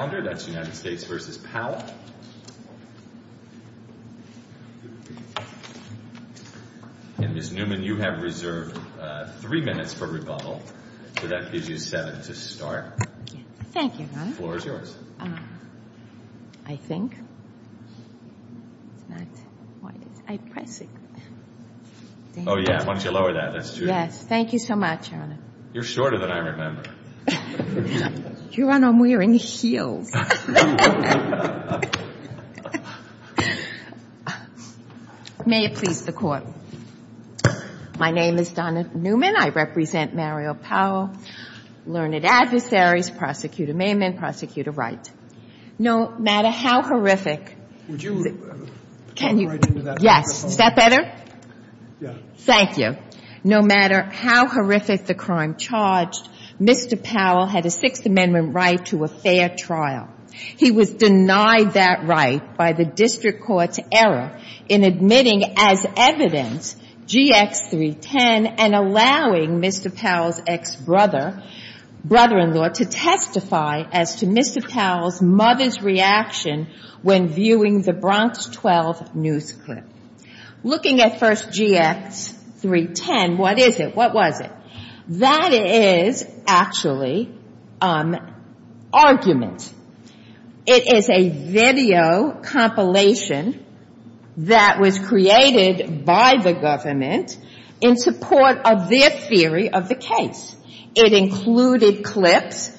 And Ms. Newman, you have reserved three minutes for rebuttal, so that gives you seven to start. Thank you, Your Honor. The floor is yours. I think. It's not. Why did I press it? Oh, yeah. Why don't you lower that? That's two. Yes. Thank you so much, Your Honor. You're shorter than I remember. Your Honor, I'm wearing heels. May it please the Court. My name is Donna Newman. I represent Mario Powell, learned adversaries, Prosecutor Maiman, Prosecutor Wright. No matter how horrific. Would you write into that? Yes. Is that better? Yeah. Thank you. No matter how horrific the crime charged, Mr. Powell had a Sixth Amendment right to a fair trial. He was denied that right by the district court's error in admitting as evidence GX310 and allowing Mr. Powell's ex-brother, brother-in-law, to testify as to Mr. Powell's mother's reaction when viewing the Bronx 12 news clip. Looking at first GX310, what is it? What was it? That is actually argument. It is a video compilation that was created by the government in support of their theory of the case. It included clips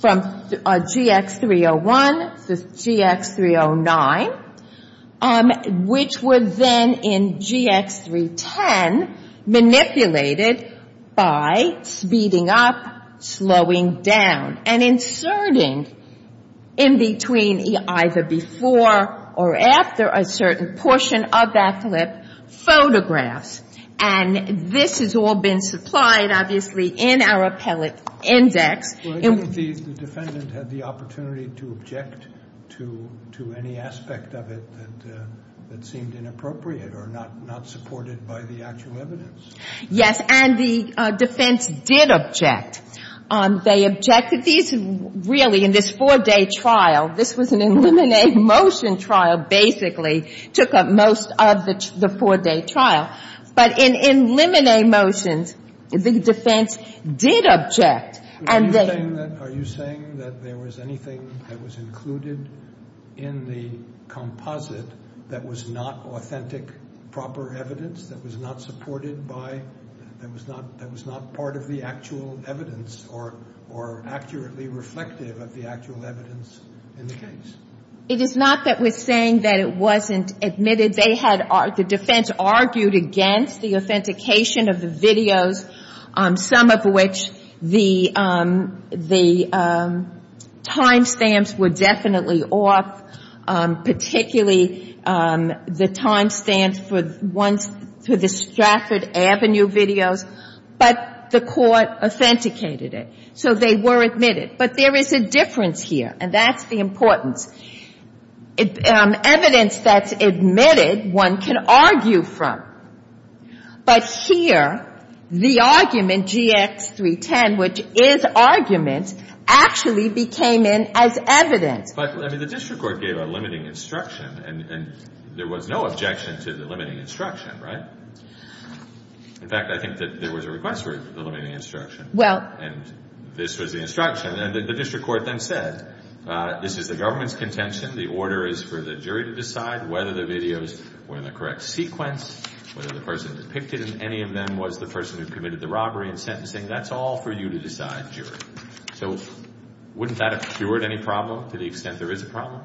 from GX301 to GX309, which were then in GX310 manipulated by speeding up, slowing down, and inserting in between either before or after a certain portion of that clip photographs. And this has all been supplied, obviously, in our appellate index. The defendant had the opportunity to object to any aspect of it that seemed inappropriate or not supported by the actual evidence? Yes. And the defense did object. They objected to these really in this four-day trial. This was an eliminate motion trial, basically, took up most of the four-day trial. But in eliminate motions, the defense did object. Are you saying that there was anything that was included in the composite that was not authentic, proper evidence, that was not supported by, that was not part of the actual evidence or accurately reflective of the actual evidence in the case? It is not that we're saying that it wasn't admitted. The defense argued against the authentication of the videos, some of which the time stamps were definitely off, particularly the time stamps for the Stratford Avenue videos, but the court authenticated it. So they were admitted. But there is a difference here, and that's the importance. Evidence that's admitted, one can argue from. But here, the argument, GX310, which is argument, actually became in as evidence. But, I mean, the district court gave a limiting instruction, and there was no objection to the limiting instruction, right? In fact, I think that there was a request for the limiting instruction. And this was the instruction. And the district court then said, this is the government's contention. The order is for the jury to decide whether the videos were in the correct sequence, whether the person depicted in any of them was the person who committed the robbery and sentencing. That's all for you to decide, jury. So wouldn't that have cured any problem to the extent there is a problem?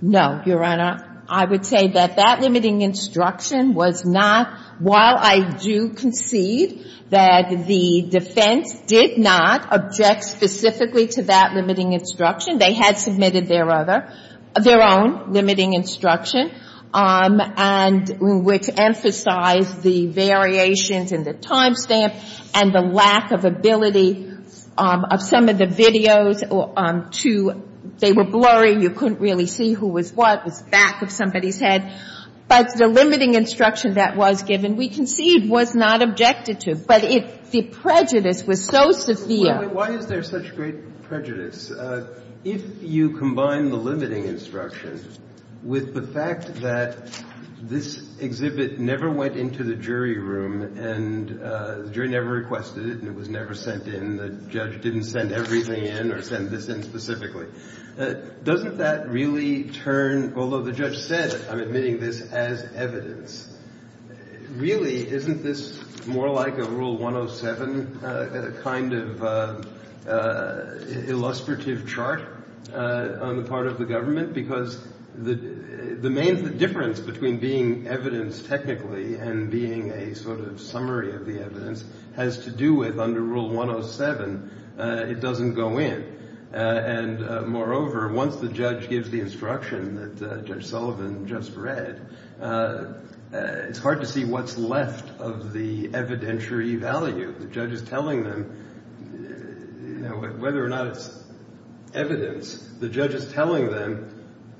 No, Your Honor. I would say that that limiting instruction was not, while I do concede that the defense did not object specifically to that limiting instruction. They had submitted their other, their own limiting instruction, and which emphasized the variations in the time stamp and the lack of ability of some of the videos to, they were blurry, you couldn't really see who was what, it was the back of somebody's head. But the limiting instruction that was given, we concede, was not objected to. But it, the prejudice was so severe. Why is there such great prejudice? If you combine the limiting instruction with the fact that this exhibit never went into the jury room and the jury never requested it and it was never sent in, the judge didn't send everything in or send this in specifically, doesn't that really turn, although the judge said, I'm admitting this as evidence, really isn't this more like a Rule 107 kind of illustrative chart on the part of the government? Because the main difference between being evidence technically and being a sort of summary of the evidence has to do with, under Rule 107, it doesn't go in. And moreover, once the judge gives the instruction that Judge Sullivan just read, it's hard to see what's left of the evidentiary value. The judge is telling them, whether or not it's evidence, the judge is telling them,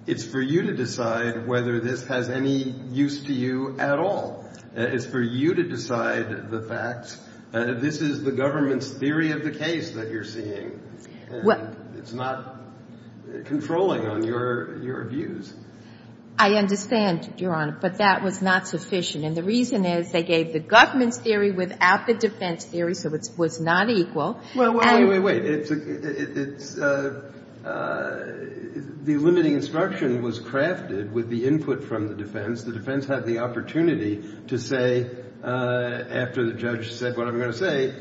it's for you to decide whether this has any use to you at all. It's for you to decide the facts. This is the government's theory of the case that you're seeing. And it's not controlling on your views. I understand, Your Honor, but that was not sufficient. And the reason is they gave the government's theory without the defense theory, so it was not equal. Well, wait, wait, wait. The limiting instruction was crafted with the input from the defense. The defense had the opportunity to say, after the judge said what I'm going to say,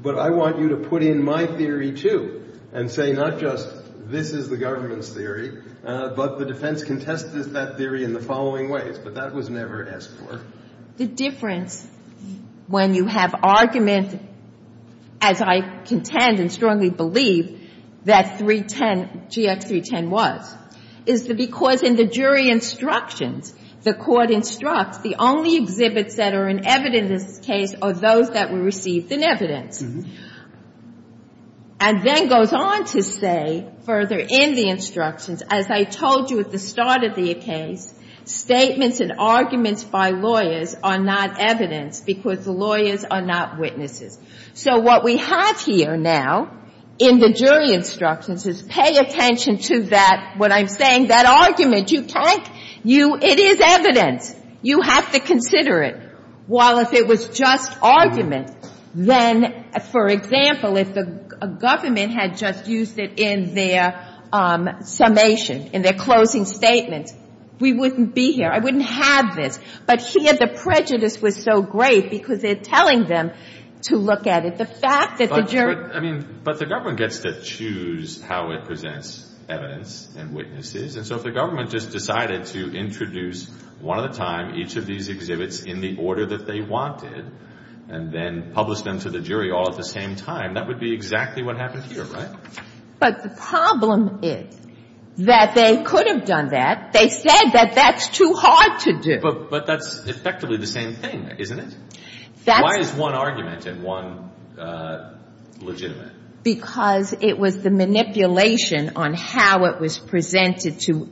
but I want you to put in my theory, too, and say not just this is the government's theory, but the defense contested that theory in the following ways. But that was never asked for. The difference when you have argument, as I contend and strongly believe that 310, GX310 was, is because in the jury instructions, the court instructs the only exhibits that are in evidence in this case are those that were received in evidence. And then goes on to say further in the instructions, as I told you at the start of the case, statements and arguments by lawyers are not evidence because the lawyers are not witnesses. So what we have here now in the jury instructions is pay attention to that, what I'm saying, that argument. You can't you — it is evidence. You have to consider it. While if it was just argument, then, for example, if the government had just used it in their summation, in their closing statement, we wouldn't be here. I wouldn't have this. But here the prejudice was so great because they're telling them to look at it. But the government gets to choose how it presents evidence and witnesses. And so if the government just decided to introduce one at a time each of these exhibits in the order that they wanted and then publish them to the jury all at the same time, that would be exactly what happened here, right? But the problem is that they could have done that. They said that that's too hard to do. But that's effectively the same thing, isn't it? Why is one argument and one legitimate? Because it was the manipulation on how it was presented to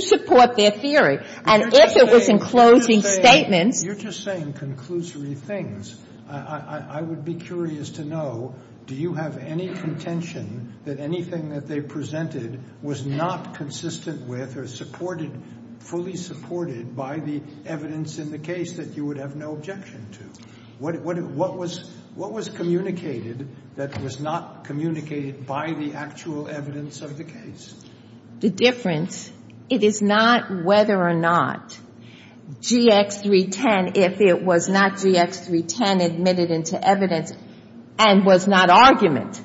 support their theory. And if it was in closing statements — You're just saying conclusory things. I would be curious to know, do you have any contention that anything that they presented was not consistent with or fully supported by the evidence in the case that you would have no objection to? What was communicated that was not communicated by the actual evidence of the case? The difference, it is not whether or not GX310, if it was not GX310 admitted into evidence and was not argument.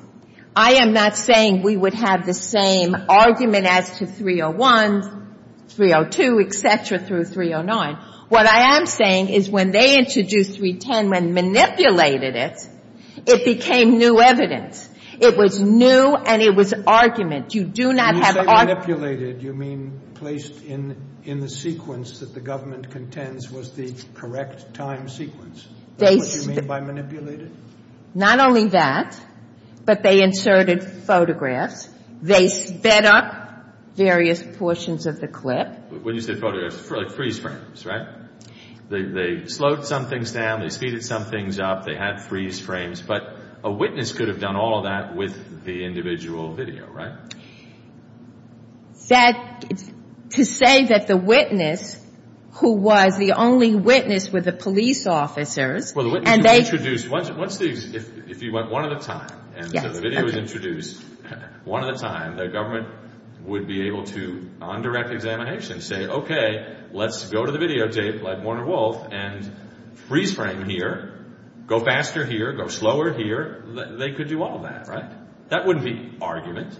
I am not saying we would have the same argument as to 301, 302, et cetera, through 309. What I am saying is when they introduced 310, when manipulated it, it became new evidence. It was new and it was argument. You do not have — When you say manipulated, you mean placed in the sequence that the government contends was the correct time sequence. Is that what you mean by manipulated? Not only that, but they inserted photographs. They sped up various portions of the clip. When you say photographs, freeze frames, right? They slowed some things down. They speeded some things up. They had freeze frames. But a witness could have done all of that with the individual video, right? To say that the witness who was the only witness were the police officers and they — Well, the witness who was introduced, if you went one at a time and the video was introduced one at a time, the government would be able to, on direct examination, say, okay, let's go to the video tape like Warner Wolfe and freeze frame here, go faster here, go slower here. They could do all that, right? That wouldn't be argument.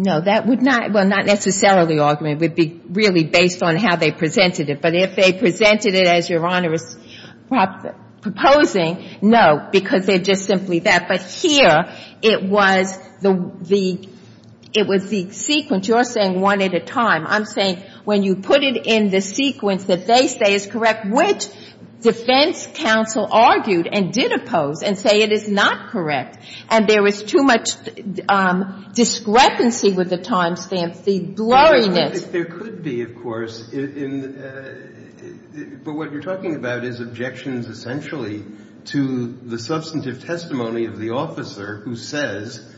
No, that would not — well, not necessarily argument. It would be really based on how they presented it. But if they presented it as Your Honor is proposing, no, because they're just simply that. But here it was the — it was the sequence. You're saying one at a time. I'm saying when you put it in the sequence that they say is correct, which defense counsel argued and did oppose and say it is not correct, and there was too much discrepancy with the timestamps, the blurriness. There could be, of course. But what you're talking about is objections essentially to the substantive testimony of the officer who says,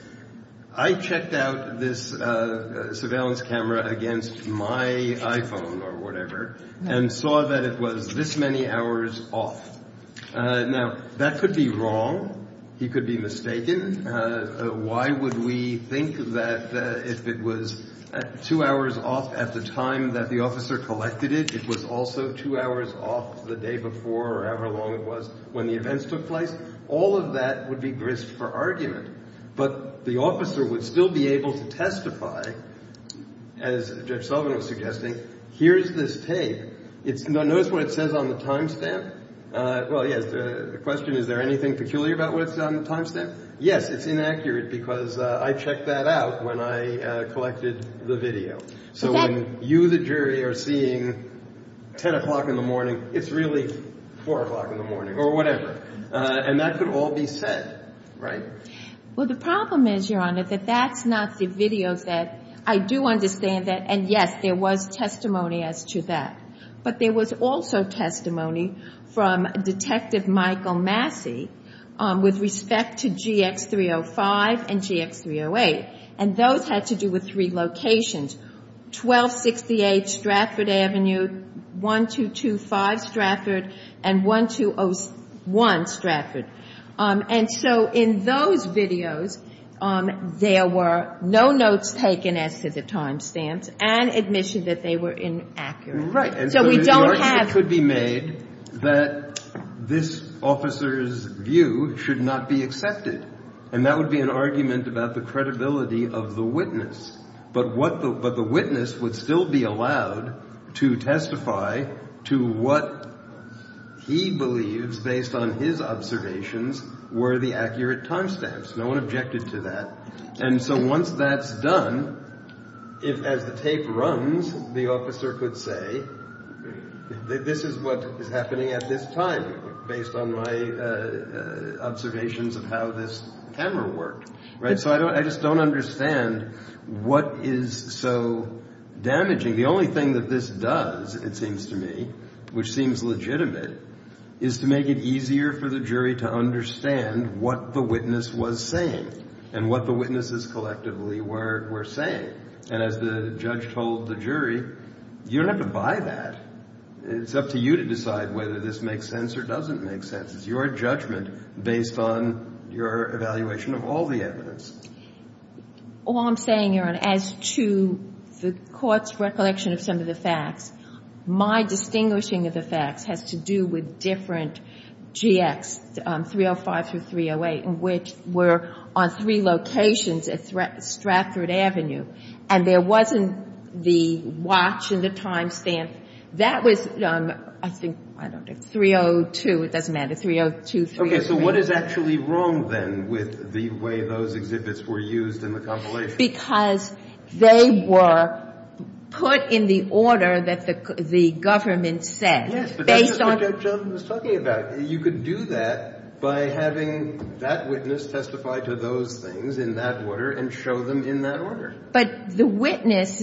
I checked out this surveillance camera against my iPhone or whatever and saw that it was this many hours off. Now, that could be wrong. He could be mistaken. Why would we think that if it was two hours off at the time that the officer collected it, it was also two hours off the day before or however long it was when the events took place? All of that would be grist for argument. But the officer would still be able to testify, as Judge Sullivan was suggesting, here's this tape. Notice what it says on the timestamp. Well, yes, the question, is there anything peculiar about what it says on the timestamp? Yes, it's inaccurate because I checked that out when I collected the video. So when you, the jury, are seeing 10 o'clock in the morning, it's really 4 o'clock in the morning or whatever. And that could all be said, right? Well, the problem is, Your Honor, that that's not the video that I do understand. And, yes, there was testimony as to that. But there was also testimony from Detective Michael Massey with respect to GX305 and GX308. And those had to do with three locations, 1268 Stratford Avenue, 1225 Stratford, and 1201 Stratford. And so in those videos, there were no notes taken as to the timestamps and admission that they were inaccurate. So we don't have. And so the argument could be made that this officer's view should not be accepted. And that would be an argument about the credibility of the witness. But the witness would still be allowed to testify to what he believes, based on his observations, were the accurate timestamps. No one objected to that. And so once that's done, as the tape runs, the officer could say, this is what is happening at this time, based on my observations of how this camera worked. So I just don't understand what is so damaging. The only thing that this does, it seems to me, which seems legitimate, is to make it easier for the jury to understand what the witness was saying and what the witnesses collectively were saying. And as the judge told the jury, you don't have to buy that. It's up to you to decide whether this makes sense or doesn't make sense. It's your judgment based on your evaluation of all the evidence. All I'm saying, Your Honor, as to the court's recollection of some of the facts, my distinguishing of the facts has to do with different GX, 305 through 308, which were on three locations at Stratford Avenue. And there wasn't the watch and the timestamp. That was, I think, I don't know, 302. It doesn't matter. 302, 303. So what is actually wrong, then, with the way those exhibits were used in the compilation? Because they were put in the order that the government said. Yes, but that's just what Judge Jones was talking about. You could do that by having that witness testify to those things in that order and show them in that order. But the witness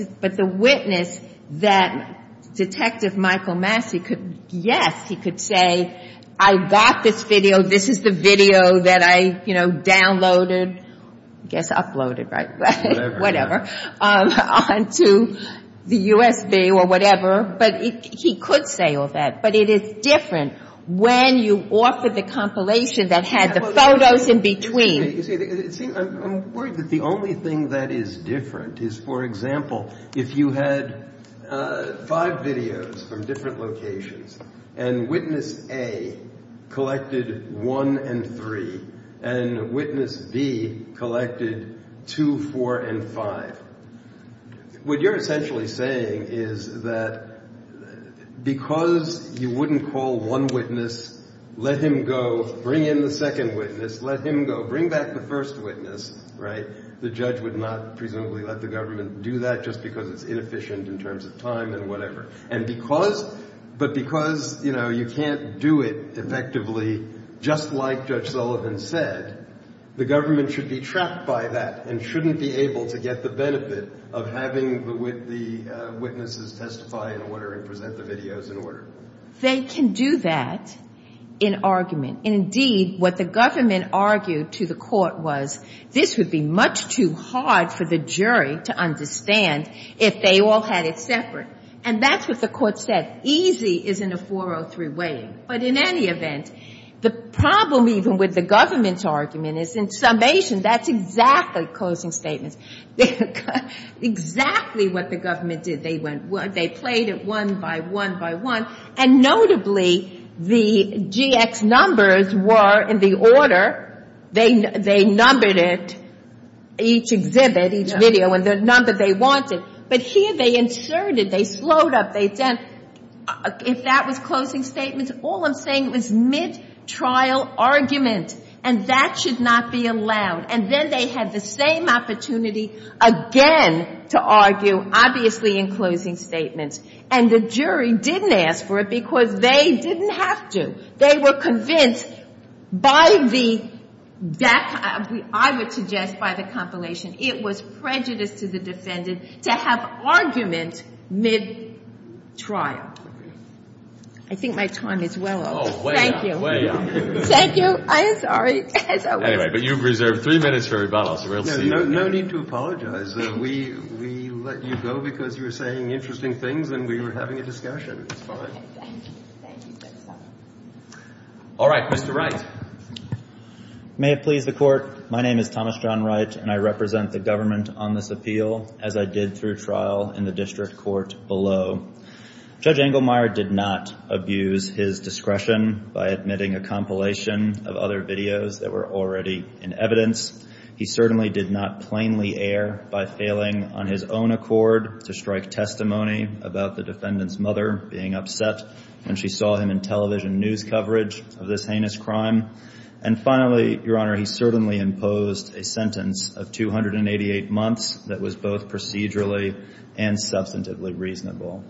that Detective Michael Massey could, yes, he could say, I got this video. This is the video that I downloaded, I guess uploaded, right? Whatever. Onto the USB or whatever. But he could say all that. But it is different when you offer the compilation that had the photos in between. I'm worried that the only thing that is different is, for example, if you had five videos from different locations and witness A collected one and three and witness B collected two, four, and five, what you're essentially saying is that because you wouldn't call one witness, let him go, bring in the second witness, let him go, bring back the first witness, the judge would not presumably let the government do that just because it's inefficient in terms of time and whatever. But because you can't do it effectively just like Judge Sullivan said, the government should be trapped by that and shouldn't be able to get the benefit of having the witnesses testify in order and present the videos in order. They can do that in argument. Indeed, what the government argued to the court was this would be much too hard for the jury to understand if they all had it separate. And that's what the court said. Easy is in a 403 way. But in any event, the problem even with the government's argument is in summation that's exactly closing statements. Exactly what the government did. They played it one by one by one. And notably, the GX numbers were in the order. They numbered it, each exhibit, each video, and the number they wanted. But here they inserted, they slowed up, they did. If that was closing statements, all I'm saying was mid-trial argument, and that should not be allowed. And then they had the same opportunity again to argue, obviously in closing statements. And the jury didn't ask for it because they didn't have to. They were convinced by the DACA, I would suggest by the compilation, it was prejudice to the defendant to have argument mid-trial. I think my time is well over. Thank you. Thank you. I am sorry. Anyway, but you've reserved three minutes for rebuttal, so we'll see. No need to apologize. We let you go because you were saying interesting things and we were having a discussion. It's fine. Okay. Thank you. All right. Mr. Wright. May it please the Court, my name is Thomas John Wright, and I represent the government on this appeal as I did through trial in the district court below. Judge Engelmeyer did not abuse his discretion by admitting a compilation of other videos that were already in evidence. He certainly did not plainly err by failing on his own accord to strike testimony about the defendant's mother being upset when she saw him in television news coverage of this heinous crime. And finally, Your Honor, he certainly imposed a sentence of 288 months that was both procedurally and substantively reasonable.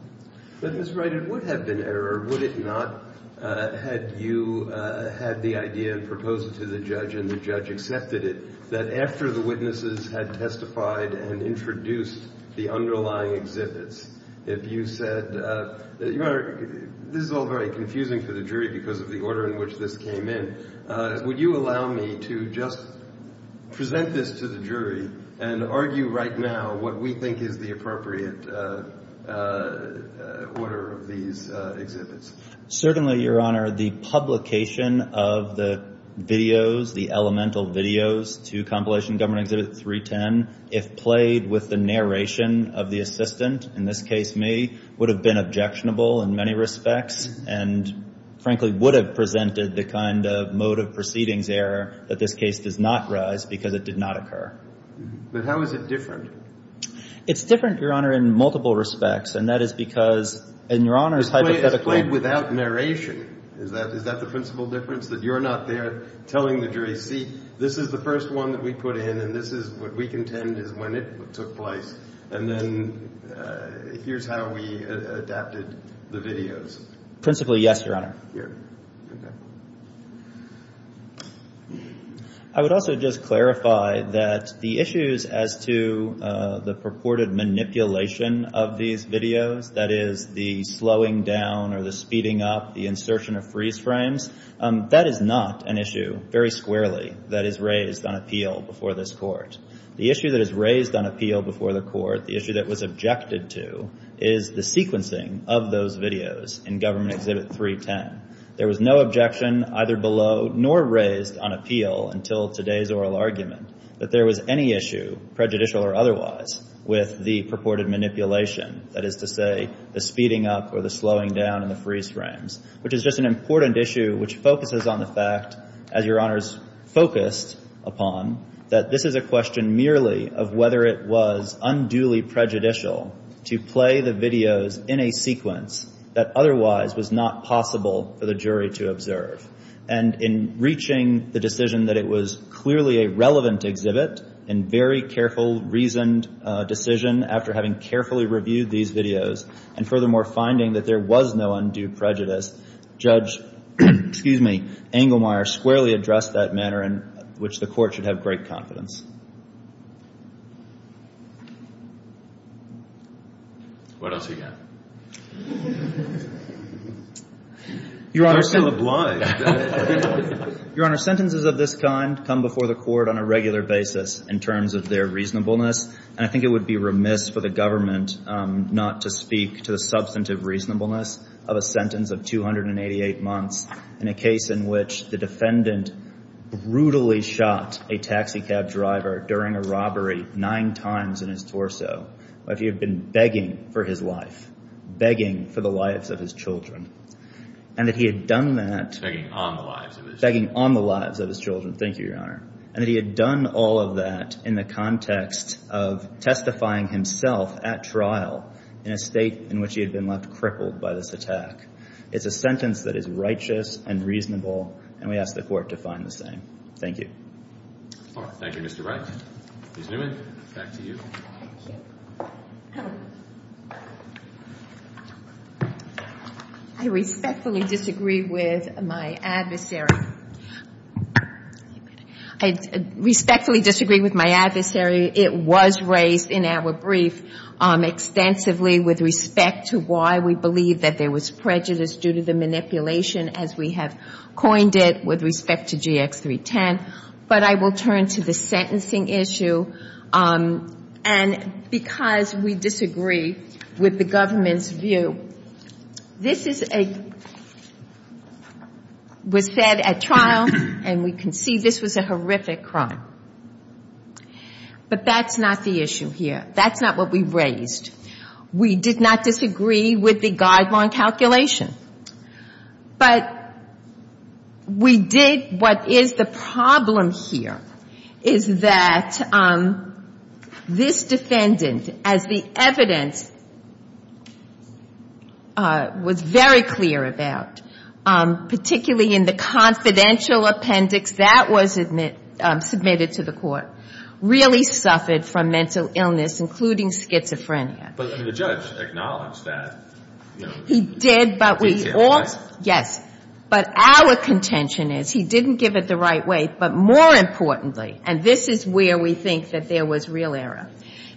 But, Mr. Wright, it would have been error, would it not, had you had the idea and proposed it to the judge and the judge accepted it, that after the witnesses had testified and introduced the underlying exhibits, if you said, Your Honor, this is all very confusing for the jury because of the order in which this came in, would you allow me to just present this to the jury and argue right now what we think is the appropriate order of these exhibits? Certainly, Your Honor. The publication of the videos, the elemental videos to compilation government exhibit 310, if played with the narration of the assistant, in this case me, would have been objectionable in many respects and, frankly, would have presented the kind of mode of proceedings error that this case does not rise because it did not occur. But how is it different? It's different, Your Honor, in multiple respects. And that is because, and Your Honor's hypothetical. It's played without narration. Is that the principal difference, that you're not there telling the jury, see, this is the first one that we put in and this is what we contend is when it took place, and then here's how we adapted the videos? Principally, yes, Your Honor. Okay. I would also just clarify that the issues as to the purported manipulation of these videos, that is the slowing down or the speeding up, the insertion of freeze frames, that is not an issue, very squarely, that is raised on appeal before this court. The issue that is raised on appeal before the court, the issue that was objected to, is the sequencing of those videos in government exhibit 310. There was no objection either below nor raised on appeal until today's oral argument that there was any issue, prejudicial or otherwise, with the purported manipulation, that is to say the speeding up or the slowing down and the freeze frames, which is just an important issue which focuses on the fact, as Your Honor's focused upon, that this is a question merely of whether it was unduly prejudicial to play the videos in a sequence that otherwise was not possible for the jury to observe. And in reaching the decision that it was clearly a relevant exhibit and very careful, reasoned decision after having carefully reviewed these videos and furthermore finding that there was no undue prejudice, Judge Engelmeyer squarely addressed that matter in which the court should have great confidence. Your Honor, sentences of this kind come before the court on a regular basis in terms of their reasonableness. And I think it would be remiss for the government not to speak to the substantive reasonableness of a sentence of 288 months in a case in which the defendant brutally shot a taxi cab driver during a robbery nine times in his torso, but he had been begging for his life, begging for the lives of his children, and that he had done that. Begging on the lives of his children. Begging on the lives of his children. Thank you, Your Honor. And that he had done all of that in the context of testifying himself at trial in a state in which he had been left crippled by this attack. It's a sentence that is righteous and reasonable, and we ask the court to find the same. Thank you. Thank you, Mr. Wright. Ms. Newman, back to you. Thank you. I respectfully disagree with my adversary. I respectfully disagree with my adversary. It was raised in our brief extensively with respect to why we believe that there was prejudice due to the manipulation as we have coined it with respect to GX310. But I will turn to the sentencing issue. And because we disagree with the government's view, this was said at trial, and we can see this was a horrific crime. But that's not the issue here. That's not what we raised. We did not disagree with the guideline calculation. But we did what is the problem here is that this defendant, as the evidence was very clear about, particularly in the confidential appendix that was submitted to the court, really suffered from mental illness, including schizophrenia. But the judge acknowledged that. He did, but we all yes. But our contention is he didn't give it the right way, but more importantly, and this is where we think that there was real error,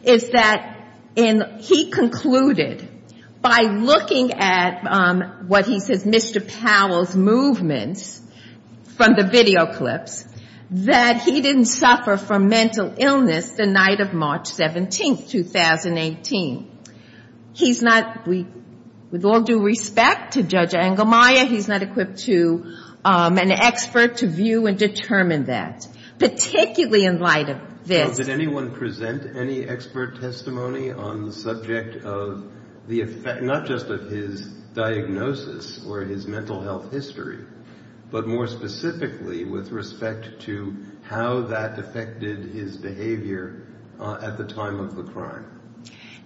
is that he concluded by looking at what he says Mr. Powell's movements from the video clips, that he didn't suffer from mental illness the night of March 17th, 2018. He's not, with all due respect to Judge Engelmeyer, he's not equipped to an expert to view and determine that, particularly in light of this. Did anyone present any expert testimony on the subject of the effect, not just of his diagnosis or his mental health history, but more specifically with respect to how that affected his behavior at the time of the crime?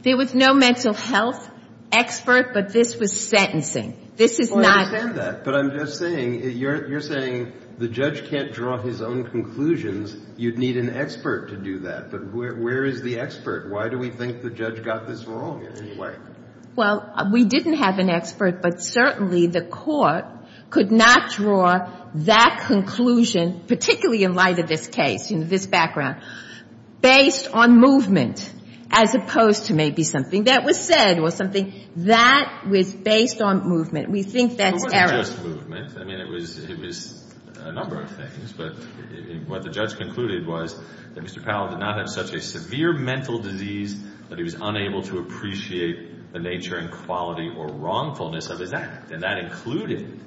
There was no mental health expert, but this was sentencing. This is not him. But I'm just saying, you're saying the judge can't draw his own conclusions. You'd need an expert to do that. But where is the expert? Why do we think the judge got this wrong in any way? Well, we didn't have an expert, but certainly the court could not draw that conclusion, particularly in light of this case, you know, this background, based on movement as opposed to maybe something that was said or something. That was based on movement. We think that's error. Well, it wasn't just movement. I mean, it was a number of things. But what the judge concluded was that Mr. Powell did not have such a severe mental disease that he was unable to appreciate the nature and quality or wrongfulness of his act, and that included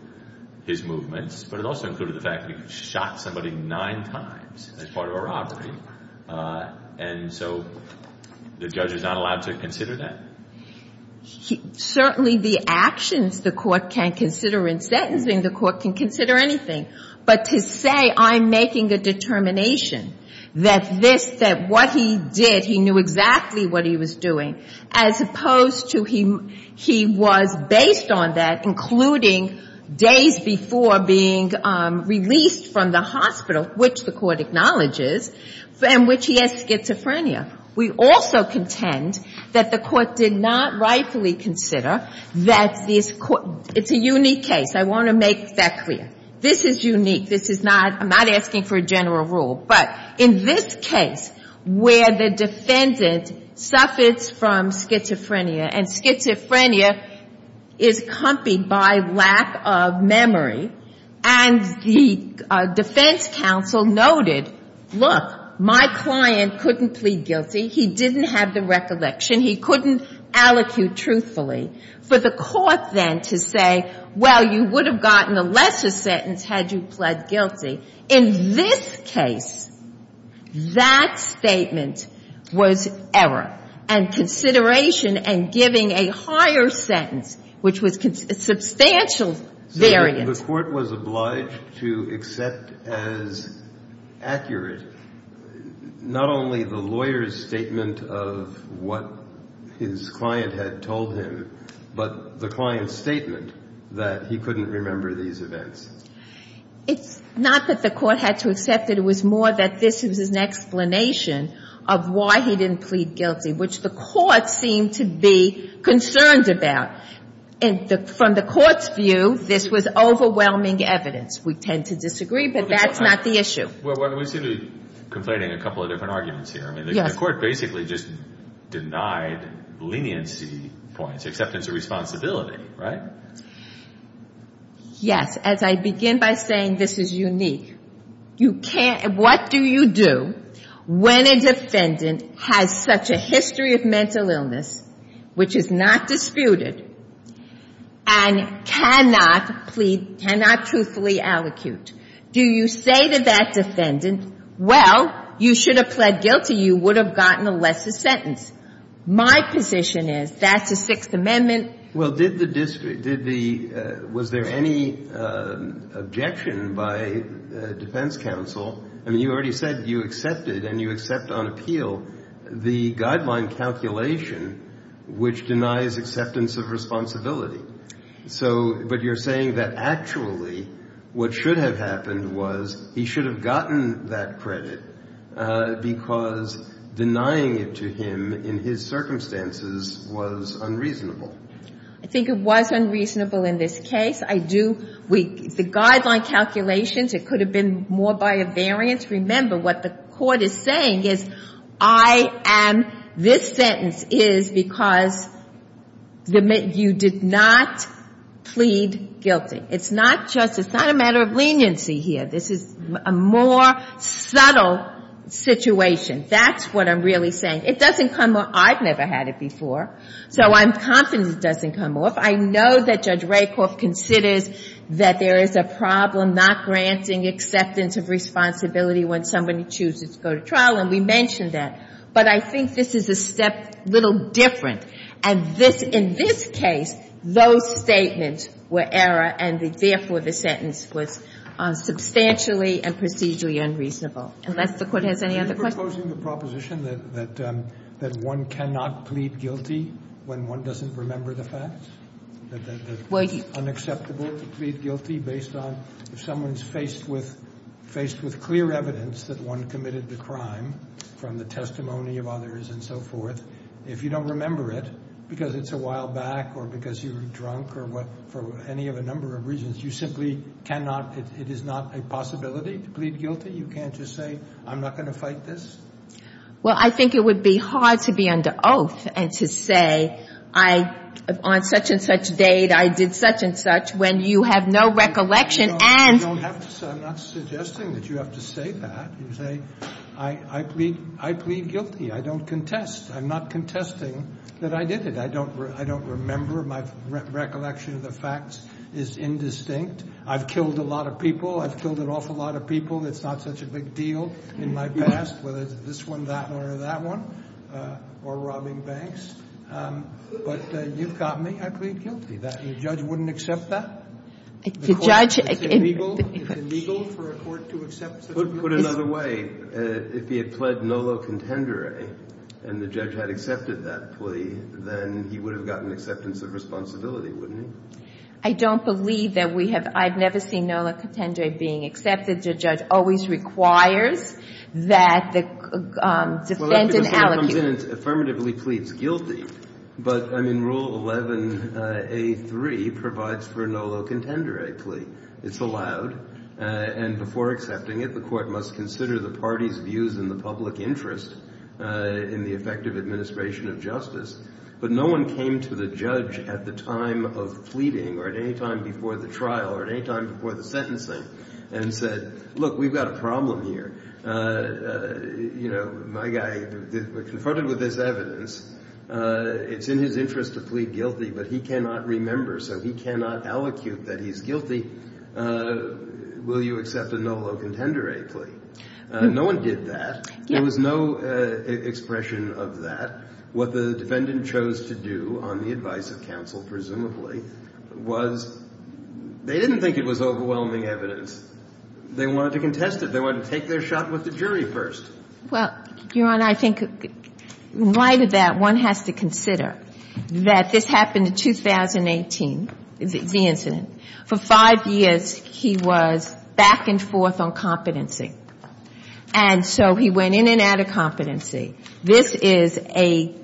his movements, but it also included the fact that he shot somebody nine times as part of a robbery. And so the judge was not allowed to consider that. Certainly the actions the court can consider in sentencing, the court can consider anything. But to say I'm making a determination that this, that what he did, he knew exactly what he was doing, as opposed to he was based on that, including days before being released from the hospital, which the court acknowledges, and which he has schizophrenia. We also contend that the court did not rightfully consider that this court, it's a unique case. I want to make that clear. This is unique. This is not, I'm not asking for a general rule. But in this case, where the defendant suffers from schizophrenia, and schizophrenia is compied by lack of memory, and the defense counsel noted, look, my client couldn't plead guilty. He didn't have the recollection. He couldn't allocute truthfully. For the court then to say, well, you would have gotten a lesser sentence had you pled guilty. In this case, that statement was error. And consideration and giving a higher sentence, which was substantial variance. The court was obliged to accept as accurate not only the lawyer's statement of what his client had told him, but the client's statement that he couldn't remember these events. It's not that the court had to accept it. It was more that this was an explanation of why he didn't plead guilty, which the court seemed to be concerned about. From the court's view, this was overwhelming evidence. We tend to disagree, but that's not the issue. Well, we seem to be complaining a couple of different arguments here. The court basically just denied leniency points, acceptance of responsibility, right? Yes. As I begin by saying this is unique. What do you do when a defendant has such a history of mental illness, which is not disputed, and cannot plead, cannot truthfully allocute? Do you say to that defendant, well, you should have pled guilty. You would have gotten a lesser sentence. My position is that's the Sixth Amendment. Well, was there any objection by defense counsel? I mean, you already said you accepted and you accept on appeal the guideline calculation, which denies acceptance of responsibility. But you're saying that actually what should have happened was he should have gotten that credit because denying it to him in his circumstances was unreasonable. I think it was unreasonable in this case. I do. The guideline calculations, it could have been more by a variance. Remember, what the court is saying is I am, this sentence is because you did not plead guilty. It's not just, it's not a matter of leniency here. This is a more subtle situation. That's what I'm really saying. It doesn't come off. I've never had it before, so I'm confident it doesn't come off. I know that Judge Rakoff considers that there is a problem not granting acceptance of responsibility when somebody chooses to go to trial, and we mentioned that. But I think this is a step a little different. And this, in this case, those statements were error, and therefore the sentence was substantially and procedurally unreasonable. Unless the Court has any other questions. Are you proposing the proposition that one cannot plead guilty when one doesn't remember the facts? That it's unacceptable to plead guilty based on if someone's faced with clear evidence that one committed the crime from the testimony of others and so forth, if you don't remember it because it's a while back or because you were drunk or what, for any of a number of reasons, you simply cannot, it is not a possibility to plead guilty? You can't just say, I'm not going to fight this? Well, I think it would be hard to be under oath and to say, I, on such and such date, I did such and such, when you have no recollection and... No, you don't have to say, I'm not suggesting that you have to say that. You say, I plead, I plead guilty. I don't contest. I'm not contesting that I did it. I don't remember. My recollection of the facts is indistinct. I've killed a lot of people. I've killed an awful lot of people. It's not such a big deal in my past, whether it's this one, that one, or that one, or robbing banks. But you've got me. I plead guilty. The judge wouldn't accept that? If the judge... It's illegal? It's illegal for a court to accept such... If the judge had accepted that plea, then he would have gotten acceptance of responsibility, wouldn't he? I don't believe that we have... I've never seen NOLA contendere being accepted. The judge always requires that the defendant allocutes. Well, that's because when it comes in, it's affirmatively pleads guilty. But, I mean, Rule 11a3 provides for a NOLA contendere plea. It's allowed. And before accepting it, the court must consider the party's views and the public interest in the effective administration of justice. But no one came to the judge at the time of pleading or at any time before the trial or at any time before the sentencing and said, Look, we've got a problem here. You know, my guy confronted with this evidence. It's in his interest to plead guilty, but he cannot remember, so he cannot allocute that he's guilty. Will you accept a NOLA contendere plea? No one did that. There was no expression of that. What the defendant chose to do on the advice of counsel, presumably, was they didn't think it was overwhelming evidence. They wanted to contest it. They wanted to take their shot with the jury first. Well, Your Honor, I think in light of that, one has to consider that this happened in 2018, the incident. For five years, he was back and forth on competency. And so he went in and out of competency. This is a,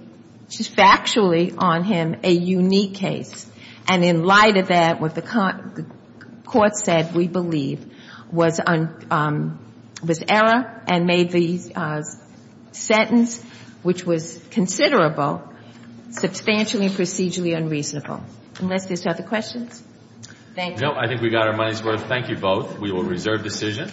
factually on him, a unique case. And in light of that, what the court said, we believe, was error and made the sentence, which was considerable, substantially procedurally unreasonable. Unless there's other questions? Thank you. No, I think we got our money's worth. Thank you both. We will reserve decision.